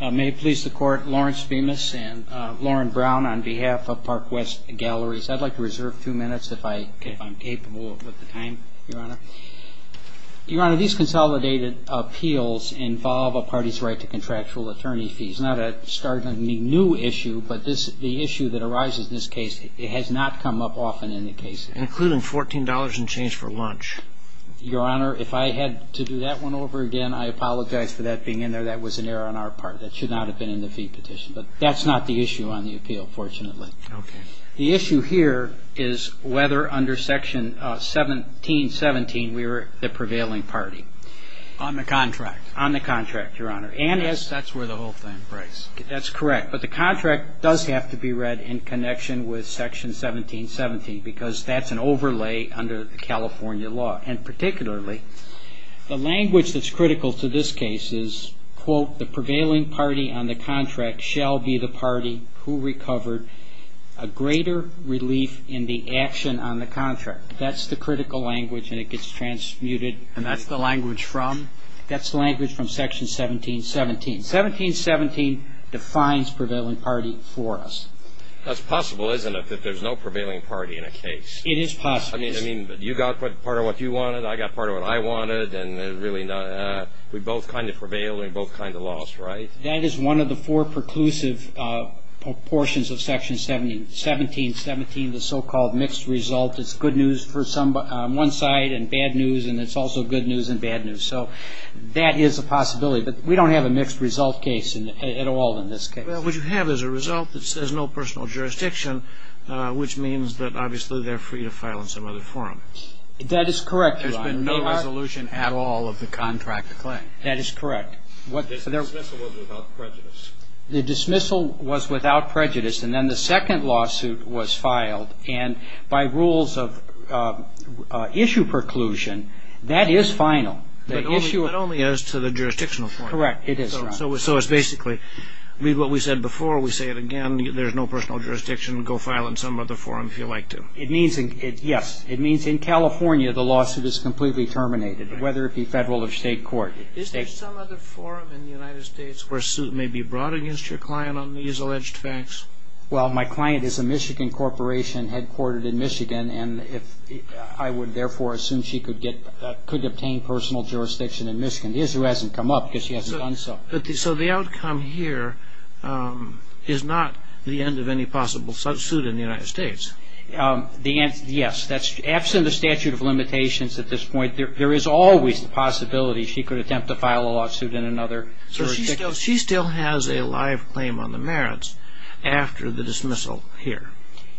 May it please the Court, Lawrence Bemis and Lauren Brown on behalf of Park West Galleries. I'd like to reserve two minutes if I'm capable of the time, Your Honor. Your Honor, these consolidated appeals involve a party's right to contractual attorney fees. Not a startlingly new issue, but the issue that arises in this case, it has not come up often in the case. Including $14 in change for lunch. Your Honor, if I had to do that one over again, I apologize for that being in there. That was an error on our part. That should not have been in the fee petition. But that's not the issue on the appeal, fortunately. Okay. The issue here is whether under Section 1717 we were the prevailing party. On the contract. On the contract, Your Honor. Yes, that's where the whole thing breaks. That's correct, but the contract does have to be read in connection with Section 1717 because that's an overlay under the California law. And particularly the language that's critical to this case is, quote, the prevailing party on the contract shall be the party who recovered a greater relief in the action on the contract. That's the critical language and it gets transmuted. And that's the language from? That's the language from Section 1717. 1717 defines prevailing party for us. That's possible, isn't it, that there's no prevailing party in a case? It is possible. I mean, you got part of what you wanted, I got part of what I wanted, and really not. We both kind of prevailed and we both kind of lost, right? That is one of the four preclusive portions of Section 1717, the so-called mixed result. It's good news for one side and bad news, and it's also good news and bad news. So that is a possibility, but we don't have a mixed result case at all in this case. Well, what you have is a result that says no personal jurisdiction, which means that obviously they're free to file in some other forum. That is correct. There's been no resolution at all of the contract claim. That is correct. The dismissal was without prejudice. The dismissal was without prejudice, and then the second lawsuit was filed, and by rules of issue preclusion, that is final. That only is to the jurisdictional forum. Correct, it is. So it's basically, read what we said before, we say it again, there's no personal jurisdiction, go file in some other forum if you like to. It means, yes, it means in California the lawsuit is completely terminated, whether it be federal or state court. Is there some other forum in the United States where suit may be brought against your client on these alleged facts? Well, my client is a Michigan corporation headquartered in Michigan, and I would therefore assume she could obtain personal jurisdiction in Michigan. The issue hasn't come up because she hasn't done so. So the outcome here is not the end of any possible suit in the United States. Yes. Absent the statute of limitations at this point, there is always the possibility she could attempt to file a lawsuit in another jurisdiction. So she still has a live claim on the merits after the dismissal here.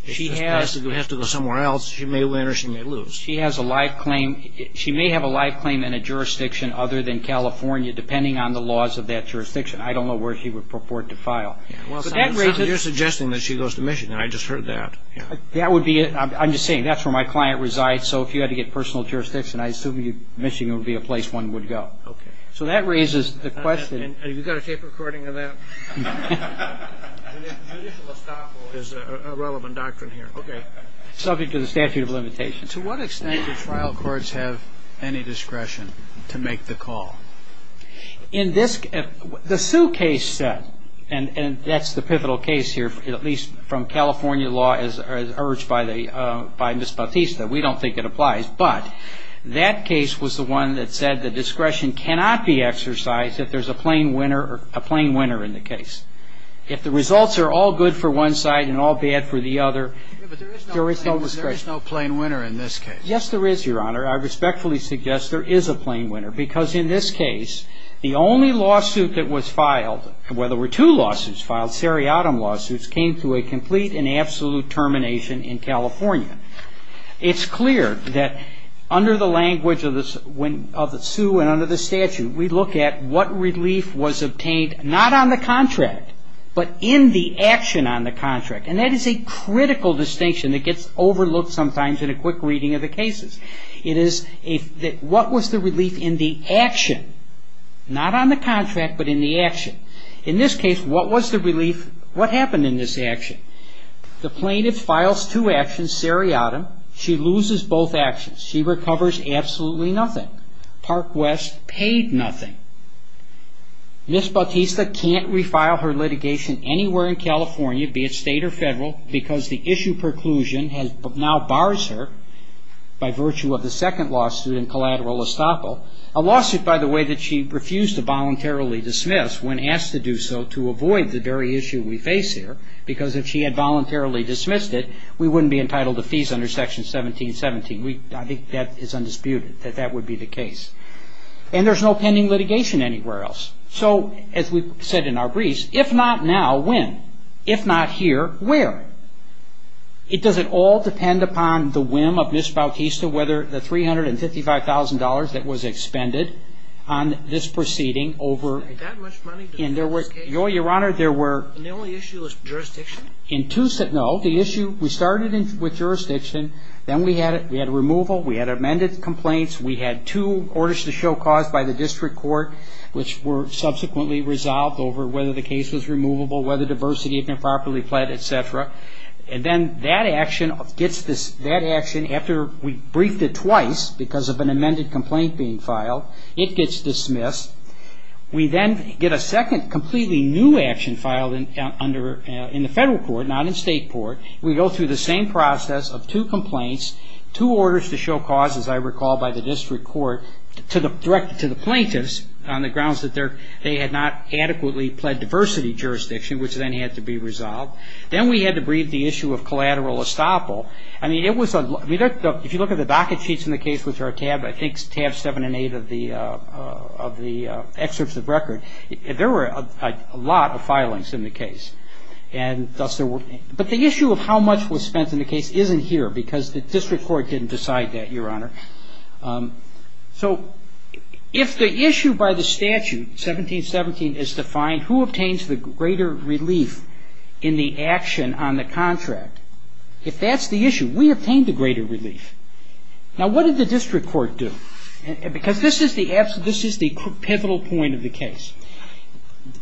She has to go somewhere else. She may win or she may lose. She has a live claim. She may have a live claim in a jurisdiction other than California, depending on the laws of that jurisdiction. I don't know where she would purport to file. You're suggesting that she goes to Michigan. I just heard that. I'm just saying that's where my client resides. So if you had to get personal jurisdiction, I assume Michigan would be a place one would go. Okay. So that raises the question. Have you got a tape recording of that? Judicial estoppel is a relevant doctrine here. Okay. Subject to the statute of limitations. To what extent do trial courts have any discretion to make the call? The discretion is not exercised in this case. And I think that's the pivotal case here, at least from California law, as urged by Ms. Bautista. We don't think it applies. But that case was the one that said the discretion cannot be exercised if there's a plain winner in the case. If the results are all good for one side and all bad for the other, there is no discretion. There is no plain winner in this case. Yes, there is, Your Honor. I respectfully suggest there is a plain winner. Because in this case, the only lawsuit that was filed, whether there were two lawsuits filed, seriatim lawsuits, came to a complete and absolute termination in California. It's clear that under the language of the sue and under the statute, we look at what relief was obtained, not on the contract, but in the action on the contract. And that is a critical distinction that gets overlooked sometimes in a quick reading of the cases. It is what was the relief in the action? Not on the contract, but in the action. In this case, what was the relief? What happened in this action? The plaintiff files two actions, seriatim. She loses both actions. She recovers absolutely nothing. Park West paid nothing. Ms. Bautista can't refile her litigation anywhere in California, be it state or federal, because the issue preclusion now bars her by virtue of the second lawsuit in collateral estoppel, a lawsuit, by the way, that she refused to voluntarily dismiss when asked to do so to avoid the very issue we face here. Because if she had voluntarily dismissed it, we wouldn't be entitled to fees under Section 1717. I think that is undisputed, that that would be the case. And there's no pending litigation anywhere else. So as we are not here, where? Does it all depend upon the whim of Ms. Bautista, whether the $355,000 that was expended on this proceeding over... That much money? Your Honor, there were... And the only issue was jurisdiction? No. The issue, we started with jurisdiction. Then we had removal. We had amended complaints. We had two orders to show cause by the district court, which were subsequently resolved over whether the case was removable, whether diversity had been properly pled, etc. And then that action gets this, that action, after we briefed it twice because of an amended complaint being filed, it gets dismissed. We then get a second completely new action filed in the federal court, not in state court. We go through the same process of two complaints, two orders to show cause, as I recall, by the district court, directed to the plaintiffs on the grounds that they had not adequately pled diversity jurisdiction, which then had to be resolved. Then we had to brief the issue of collateral estoppel. If you look at the docket sheets in the case, which are tab 7 and 8 of the excerpts of record, there were a lot of filings in the case. But the issue of how much was spent in the case isn't here because the district court didn't decide that, Your Honor. So if the issue by the statute, 1717, is defined, who obtains the greater relief in the action on the contract? If that's the issue, we obtain the greater relief. Now what did the district court do? Because this is the pivotal point of the case.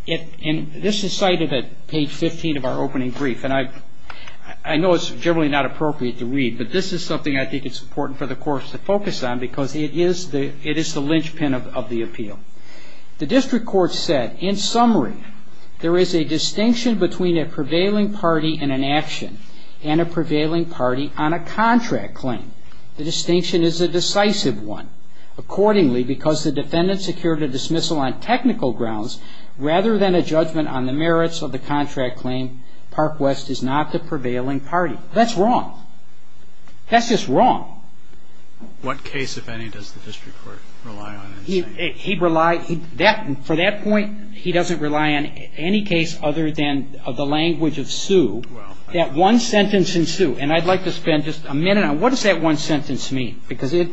And this is cited at page 15 of our opening brief. And I know it's generally not appropriate to read, but this is something I think it's important for the course to focus on because it is the linchpin of the appeal. The district court said, in summary, there is a distinction between a prevailing party in an action and a prevailing party on a contract claim. The distinction is a decisive one. Accordingly, because the defendant secured a dismissal on technical grounds rather than a judgment on the merits of the contract claim, Park West is not the prevailing party. That's wrong. That's just wrong. What case, if any, does the district court rely on? He relies, for that point, he doesn't rely on any case other than the language of sue. That one sentence in sue, and I'd like to spend just a minute on what does that one sentence mean? Because it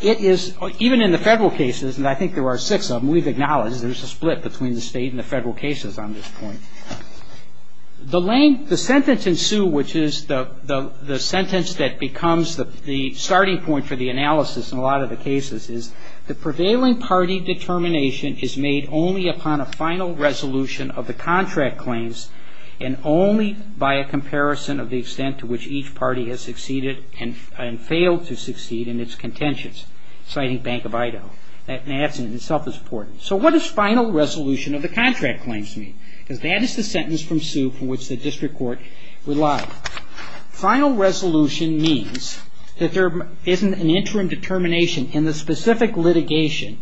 is, even in the federal cases, and I think there are six of them, we've acknowledged there's a split between the state and the federal cases on this point. The sentence in sue, which is the sentence that becomes the starting point for the analysis in a lot of the cases, is the prevailing party determination is made only upon a final resolution of the contract claims, and only by a comparison of the extent to which each party has succeeded and failed to succeed in its contentions, citing Bank of Idaho. That in itself is important. So what does final resolution of the contract claims mean? Because that is the sentence from sue from which the district court relies. Final resolution means that there isn't an interim determination in the specific litigation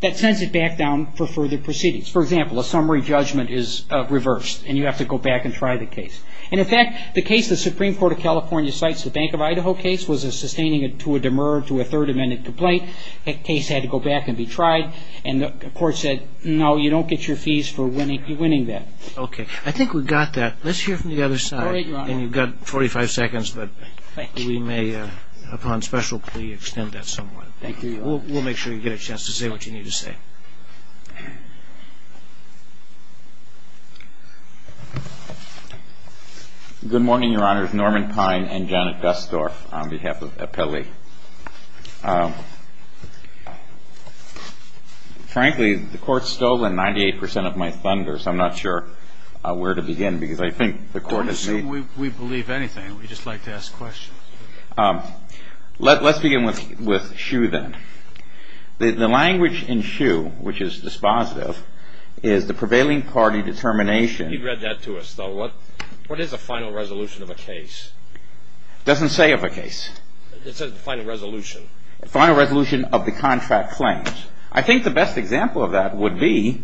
that sends it back down for further proceedings. For example, a summary judgment is reversed, and you have to go back and try the case. And in fact, the case the Supreme Court of California cites, the Bank of Idaho case, was a sustaining to a demur to a third amendment complaint. That case had to go back and be tried, and the court said, no, you don't get your fees for winning that. Okay. I think we got that. Let's hear from the other side. And you've got 45 seconds, but we may, upon special plea, extend that somewhat. We'll make sure you get a chance to say what you need to say. Good morning, Your Honor. It's Norman Pine and Janet Dusdorf on behalf of where to begin, because I think the court has made... Don't assume we believe anything. We'd just like to ask questions. Let's begin with Shue, then. The language in Shue, which is dispositive, is the prevailing party determination... You read that to us, though. What is a final resolution of a case? It doesn't say of a case. It says final resolution. Final resolution of the contract claims. I think the best example of that would be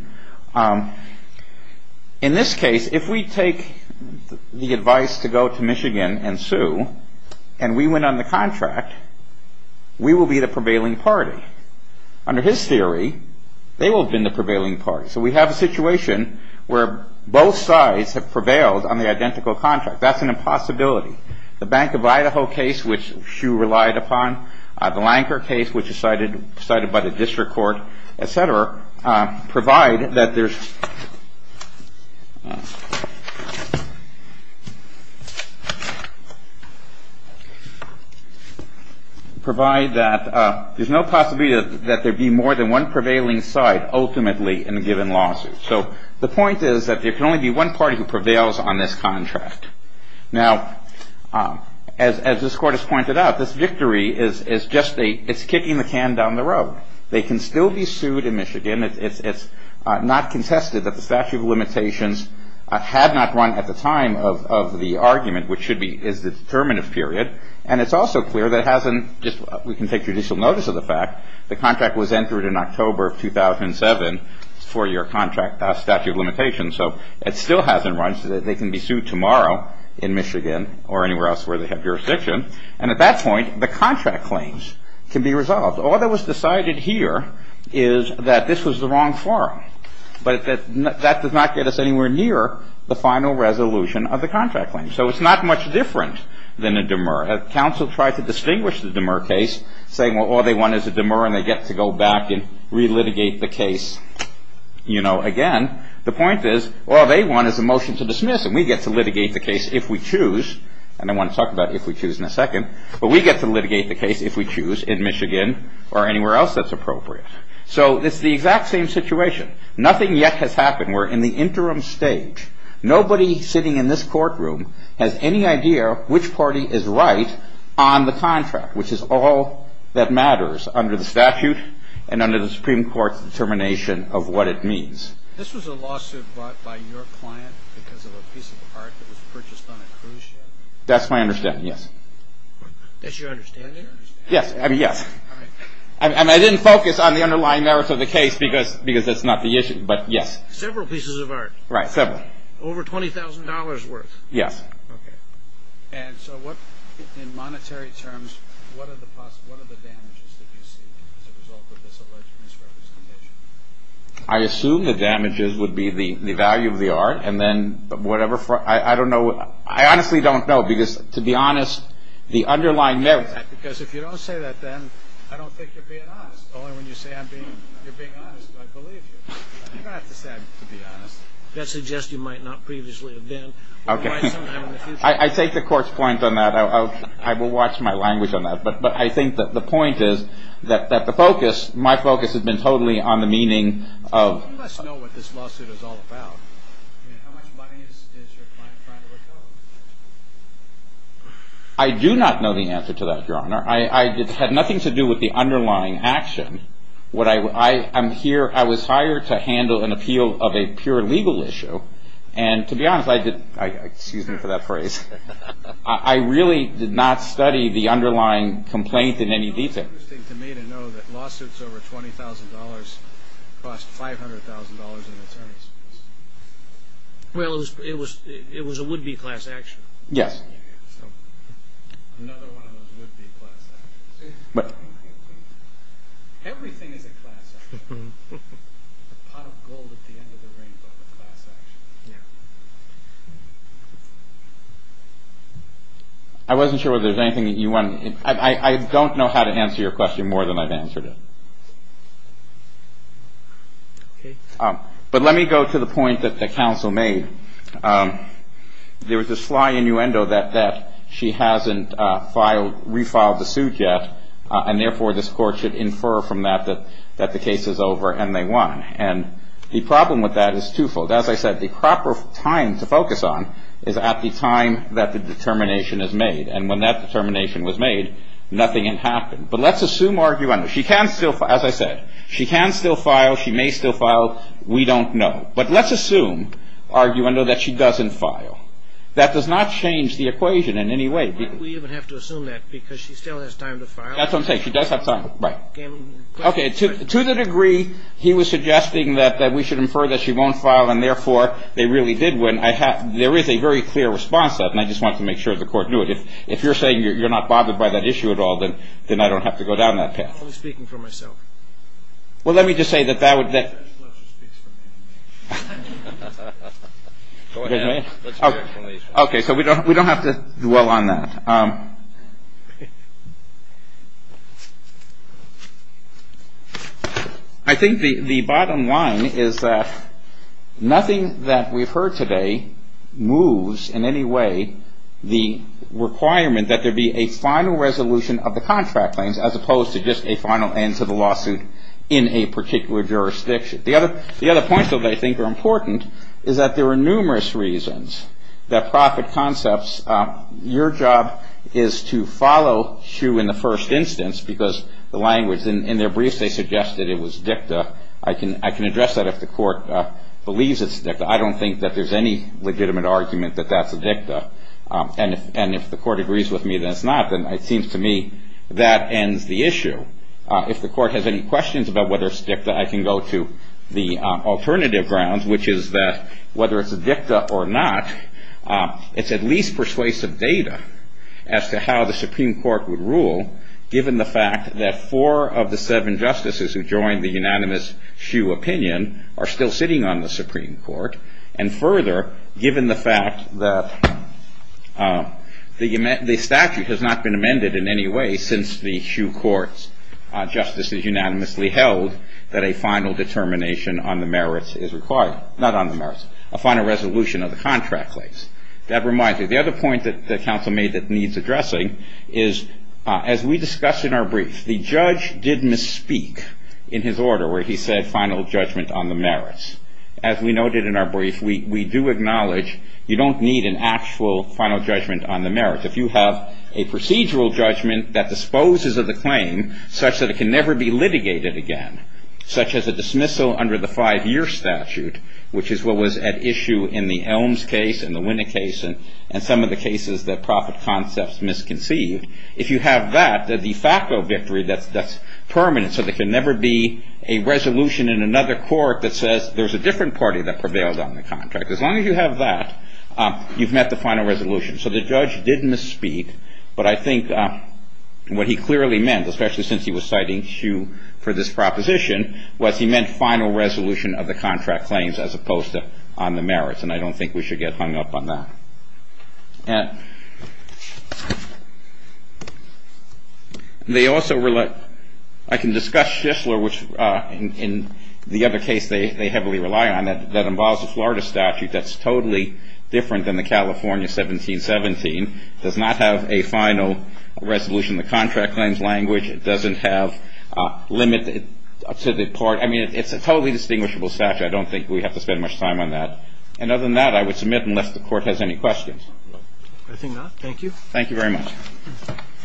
in this case, if we take the advice to go to Michigan and sue, and we went on the contract, we will be the prevailing party. Under his theory, they will have been the prevailing party. So we have a situation where both sides have prevailed on the identical contract. That's an impossibility. The Bank of Idaho case, which Shue relied upon, the Lanker case, which is cited by the district court, et cetera, provide that there's... Provide that there's no possibility that there'd be more than one prevailing side, ultimately, in a given lawsuit. So the point is that there can only be one party who prevails on this contract. Now, as this court has pointed out, this victory is just a... It's kicking the can down the road. They can still be sued in Michigan. It's not contested that the statute of limitations had not run at the time of the argument, which should be... Is the determinative period. And it's also clear that it hasn't just... We can take judicial notice of the fact, the contract was entered in October of 2007, four year contract statute of limitations. So it still hasn't run, so they can be sued tomorrow in Michigan or anywhere else where they have jurisdiction. And at that point, the contract claims can be resolved. All that was decided here is that this was the wrong forum, but that does not get us anywhere near the final resolution of the contract claim. So it's not much different than a demur. Council tried to distinguish the demur case, saying, well, all they want is a demur, and they get to go back and relitigate the case. Again, the point is, all they want is a motion to dismiss, and we get to litigate the case if we choose, in Michigan or anywhere else that's appropriate. So it's the exact same situation. Nothing yet has happened. We're in the interim stage. Nobody sitting in this courtroom has any idea which party is right on the contract, which is all that matters under the statute and under the Supreme Court's determination of what it means. This was a lawsuit brought by your client because of a piece of art that was purchased on a cruise ship? That's my understanding, yes. That's your understanding? Yes, I mean, yes. I didn't focus on the underlying merits of the case because that's not the issue, but yes. Several pieces of art? Right, several. Over $20,000 worth? Yes. And so what, in monetary terms, what are the damages that you see as a result of this alleged misrepresentation? I assume the damages would be the value of the art, and then the underlying merits. Because if you don't say that, then I don't think you're being honest. Only when you say you're being honest do I believe you. You don't have to say I'm being honest. That suggests you might not previously have been. I take the court's point on that. I will watch my language on that. But I think that the point is that the focus, my focus has been totally on the meaning of... Let's know what this lawsuit is all about. How much money is your client trying to recover? I do not know the answer to that, Your Honor. It had nothing to do with the underlying action. I was hired to handle an appeal of a pure legal issue, and to be honest, I did not study the underlying complaint in any detail. It's interesting to me to know that lawsuits over $20,000 cost $500,000 in attorneys. Well, it was a would-be class action. Yes. Another one of those would-be class actions. Everything is a class action. A pot of gold at the end of the rainbow is a class action. Yeah. I wasn't sure whether there was anything that you wanted... I don't know how to answer your question more than I've answered it. Okay. But let me go to the point that the counsel made. There was this fly innuendo that she hasn't refiled the suit yet, and therefore this court should infer from that that the case is over and they won. And the problem with that is twofold. As I said, the proper time to focus on is at the time that the determination is made, and when that determination was made, nothing had happened. But let's assume argument. She can still, as I said, she can still file. She may still file. We don't know. But let's assume argument that she doesn't file. That does not change the equation in any way. Why do we even have to assume that? Because she still has time to file? That's what I'm saying. She does have time. Right. Okay. To the degree he was suggesting that we should infer that she won't file, and therefore they really did win, there is a very clear response to that, and I just wanted to make sure the court knew it. If you're saying you're not bothered by that issue at all, then I don't have to go down that path. I'm only speaking for myself. Well, let me just say that that would be. Okay. So we don't have to dwell on that. I think the bottom line is that nothing that we've heard today moves in any way the requirement that there be a final resolution of the contract claims as opposed to just a final end to the lawsuit in a particular jurisdiction. The other point, though, that I think are important is that there are numerous reasons that profit concepts, your job is to follow through in the first instance because the language. In their briefs they suggested it was dicta. I can address that if the court believes it's dicta. I don't think that there's any legitimate argument that that's a dicta, and if the court agrees with me that it's not, then it seems to me that ends the issue. If the court has any questions about whether it's dicta, I can go to the alternative grounds, which is that whether it's a dicta or not, it's at least persuasive data as to how the Supreme Court would rule, given the fact that four of the seven justices who joined the unanimous Schuh opinion are still sitting on the Supreme Court, and further, given the fact that the statute has not been amended in any way since the Schuh courts, justices unanimously held that a final determination on the merits is required. Not on the merits. A final resolution of the contract claims. That reminds me, the other point that counsel made that needs addressing is, as we discussed in our brief, the judge did misspeak in his order where he said final judgment on the merits. As we noted in our brief, we do acknowledge you don't need an actual final judgment on the merits. If you have a procedural judgment that disposes of the claim such that it can never be litigated again, such as a dismissal under the five-year statute, which is what was at issue in the Elms case and the Winnick case and some of the cases that profit concepts misconceived, if you have that, the de facto victory that's permanent, so there can never be a resolution in another court that says there's a different party that prevailed on the contract. As long as you have that, you've met the final resolution. So the judge did misspeak, but I think what he clearly meant, especially since he was citing Schuh for this proposition, was he meant final resolution of the contract claims as opposed to on the merits, and I don't think we should get hung up on that. I can discuss Shishler, which in the other case they heavily rely on, that involves a Florida statute that's totally different than the California 1717. It does not have a final resolution of the contract claims language. It doesn't have a limit to the court. I mean, it's a totally distinguishable statute. I don't think we have to spend much time on that. And other than that, I would submit unless the Court has any questions. I think not. Thank you. Thank you very much.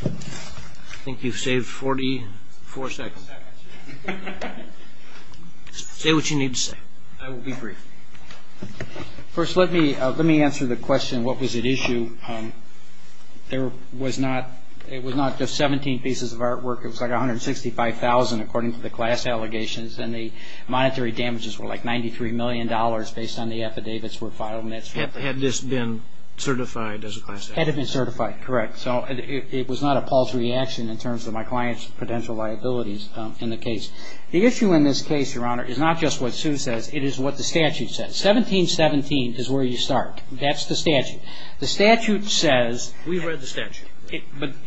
I think you've saved 44 seconds. Say what you need to say. I will be brief. First, let me answer the question, what was at issue. It was not just 17 pieces of artwork. It was like 165,000 according to the class allegations, and the monetary damages were like $93 million based on the affidavits were filed. Had this been certified as a class action? Had it been certified, correct. So it was not a paltry action in terms of my client's potential liabilities in the case. The issue in this case, Your Honor, is not just what Sue says. It is what the statute says. 1717 is where you start. That's the statute. The statute says. We've read the statute.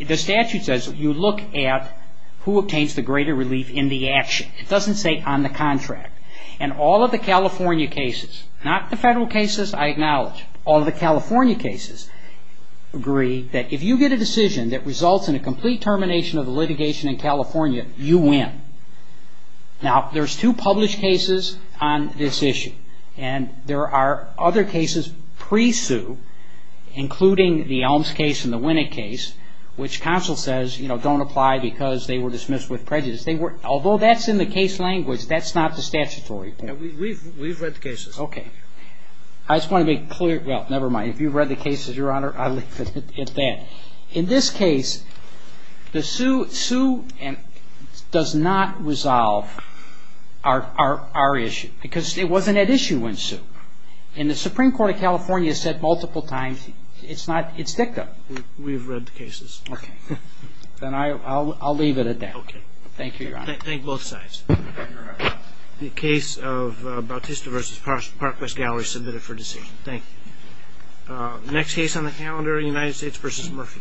The statute says you look at who obtains the greater relief in the action. It doesn't say on the contract. And all of the California cases, not the federal cases, I acknowledge, all of the California cases agree that if you get a decision that results in a complete termination of the litigation in California, you win. Now, there's two published cases on this issue. And there are other cases pre-sue, including the Elms case and the Winnick case, which counsel says, you know, don't apply because they were dismissed with prejudice. Although that's in the case language, that's not the statutory point. We've read the cases. Okay. I just want to be clear. Well, never mind. If you've read the cases, Your Honor, I'll leave it at that. In this case, the Sue does not resolve our issue because it wasn't at issue when Sue. And the Supreme Court of California said multiple times it's not, it's dicta. We've read the cases. Okay. Then I'll leave it at that. Okay. Thank you, Your Honor. Thank both sides. The case of Bautista v. Parkwest Gallery submitted for decision. Thank you. Next case on the calendar, United States v. Murphy.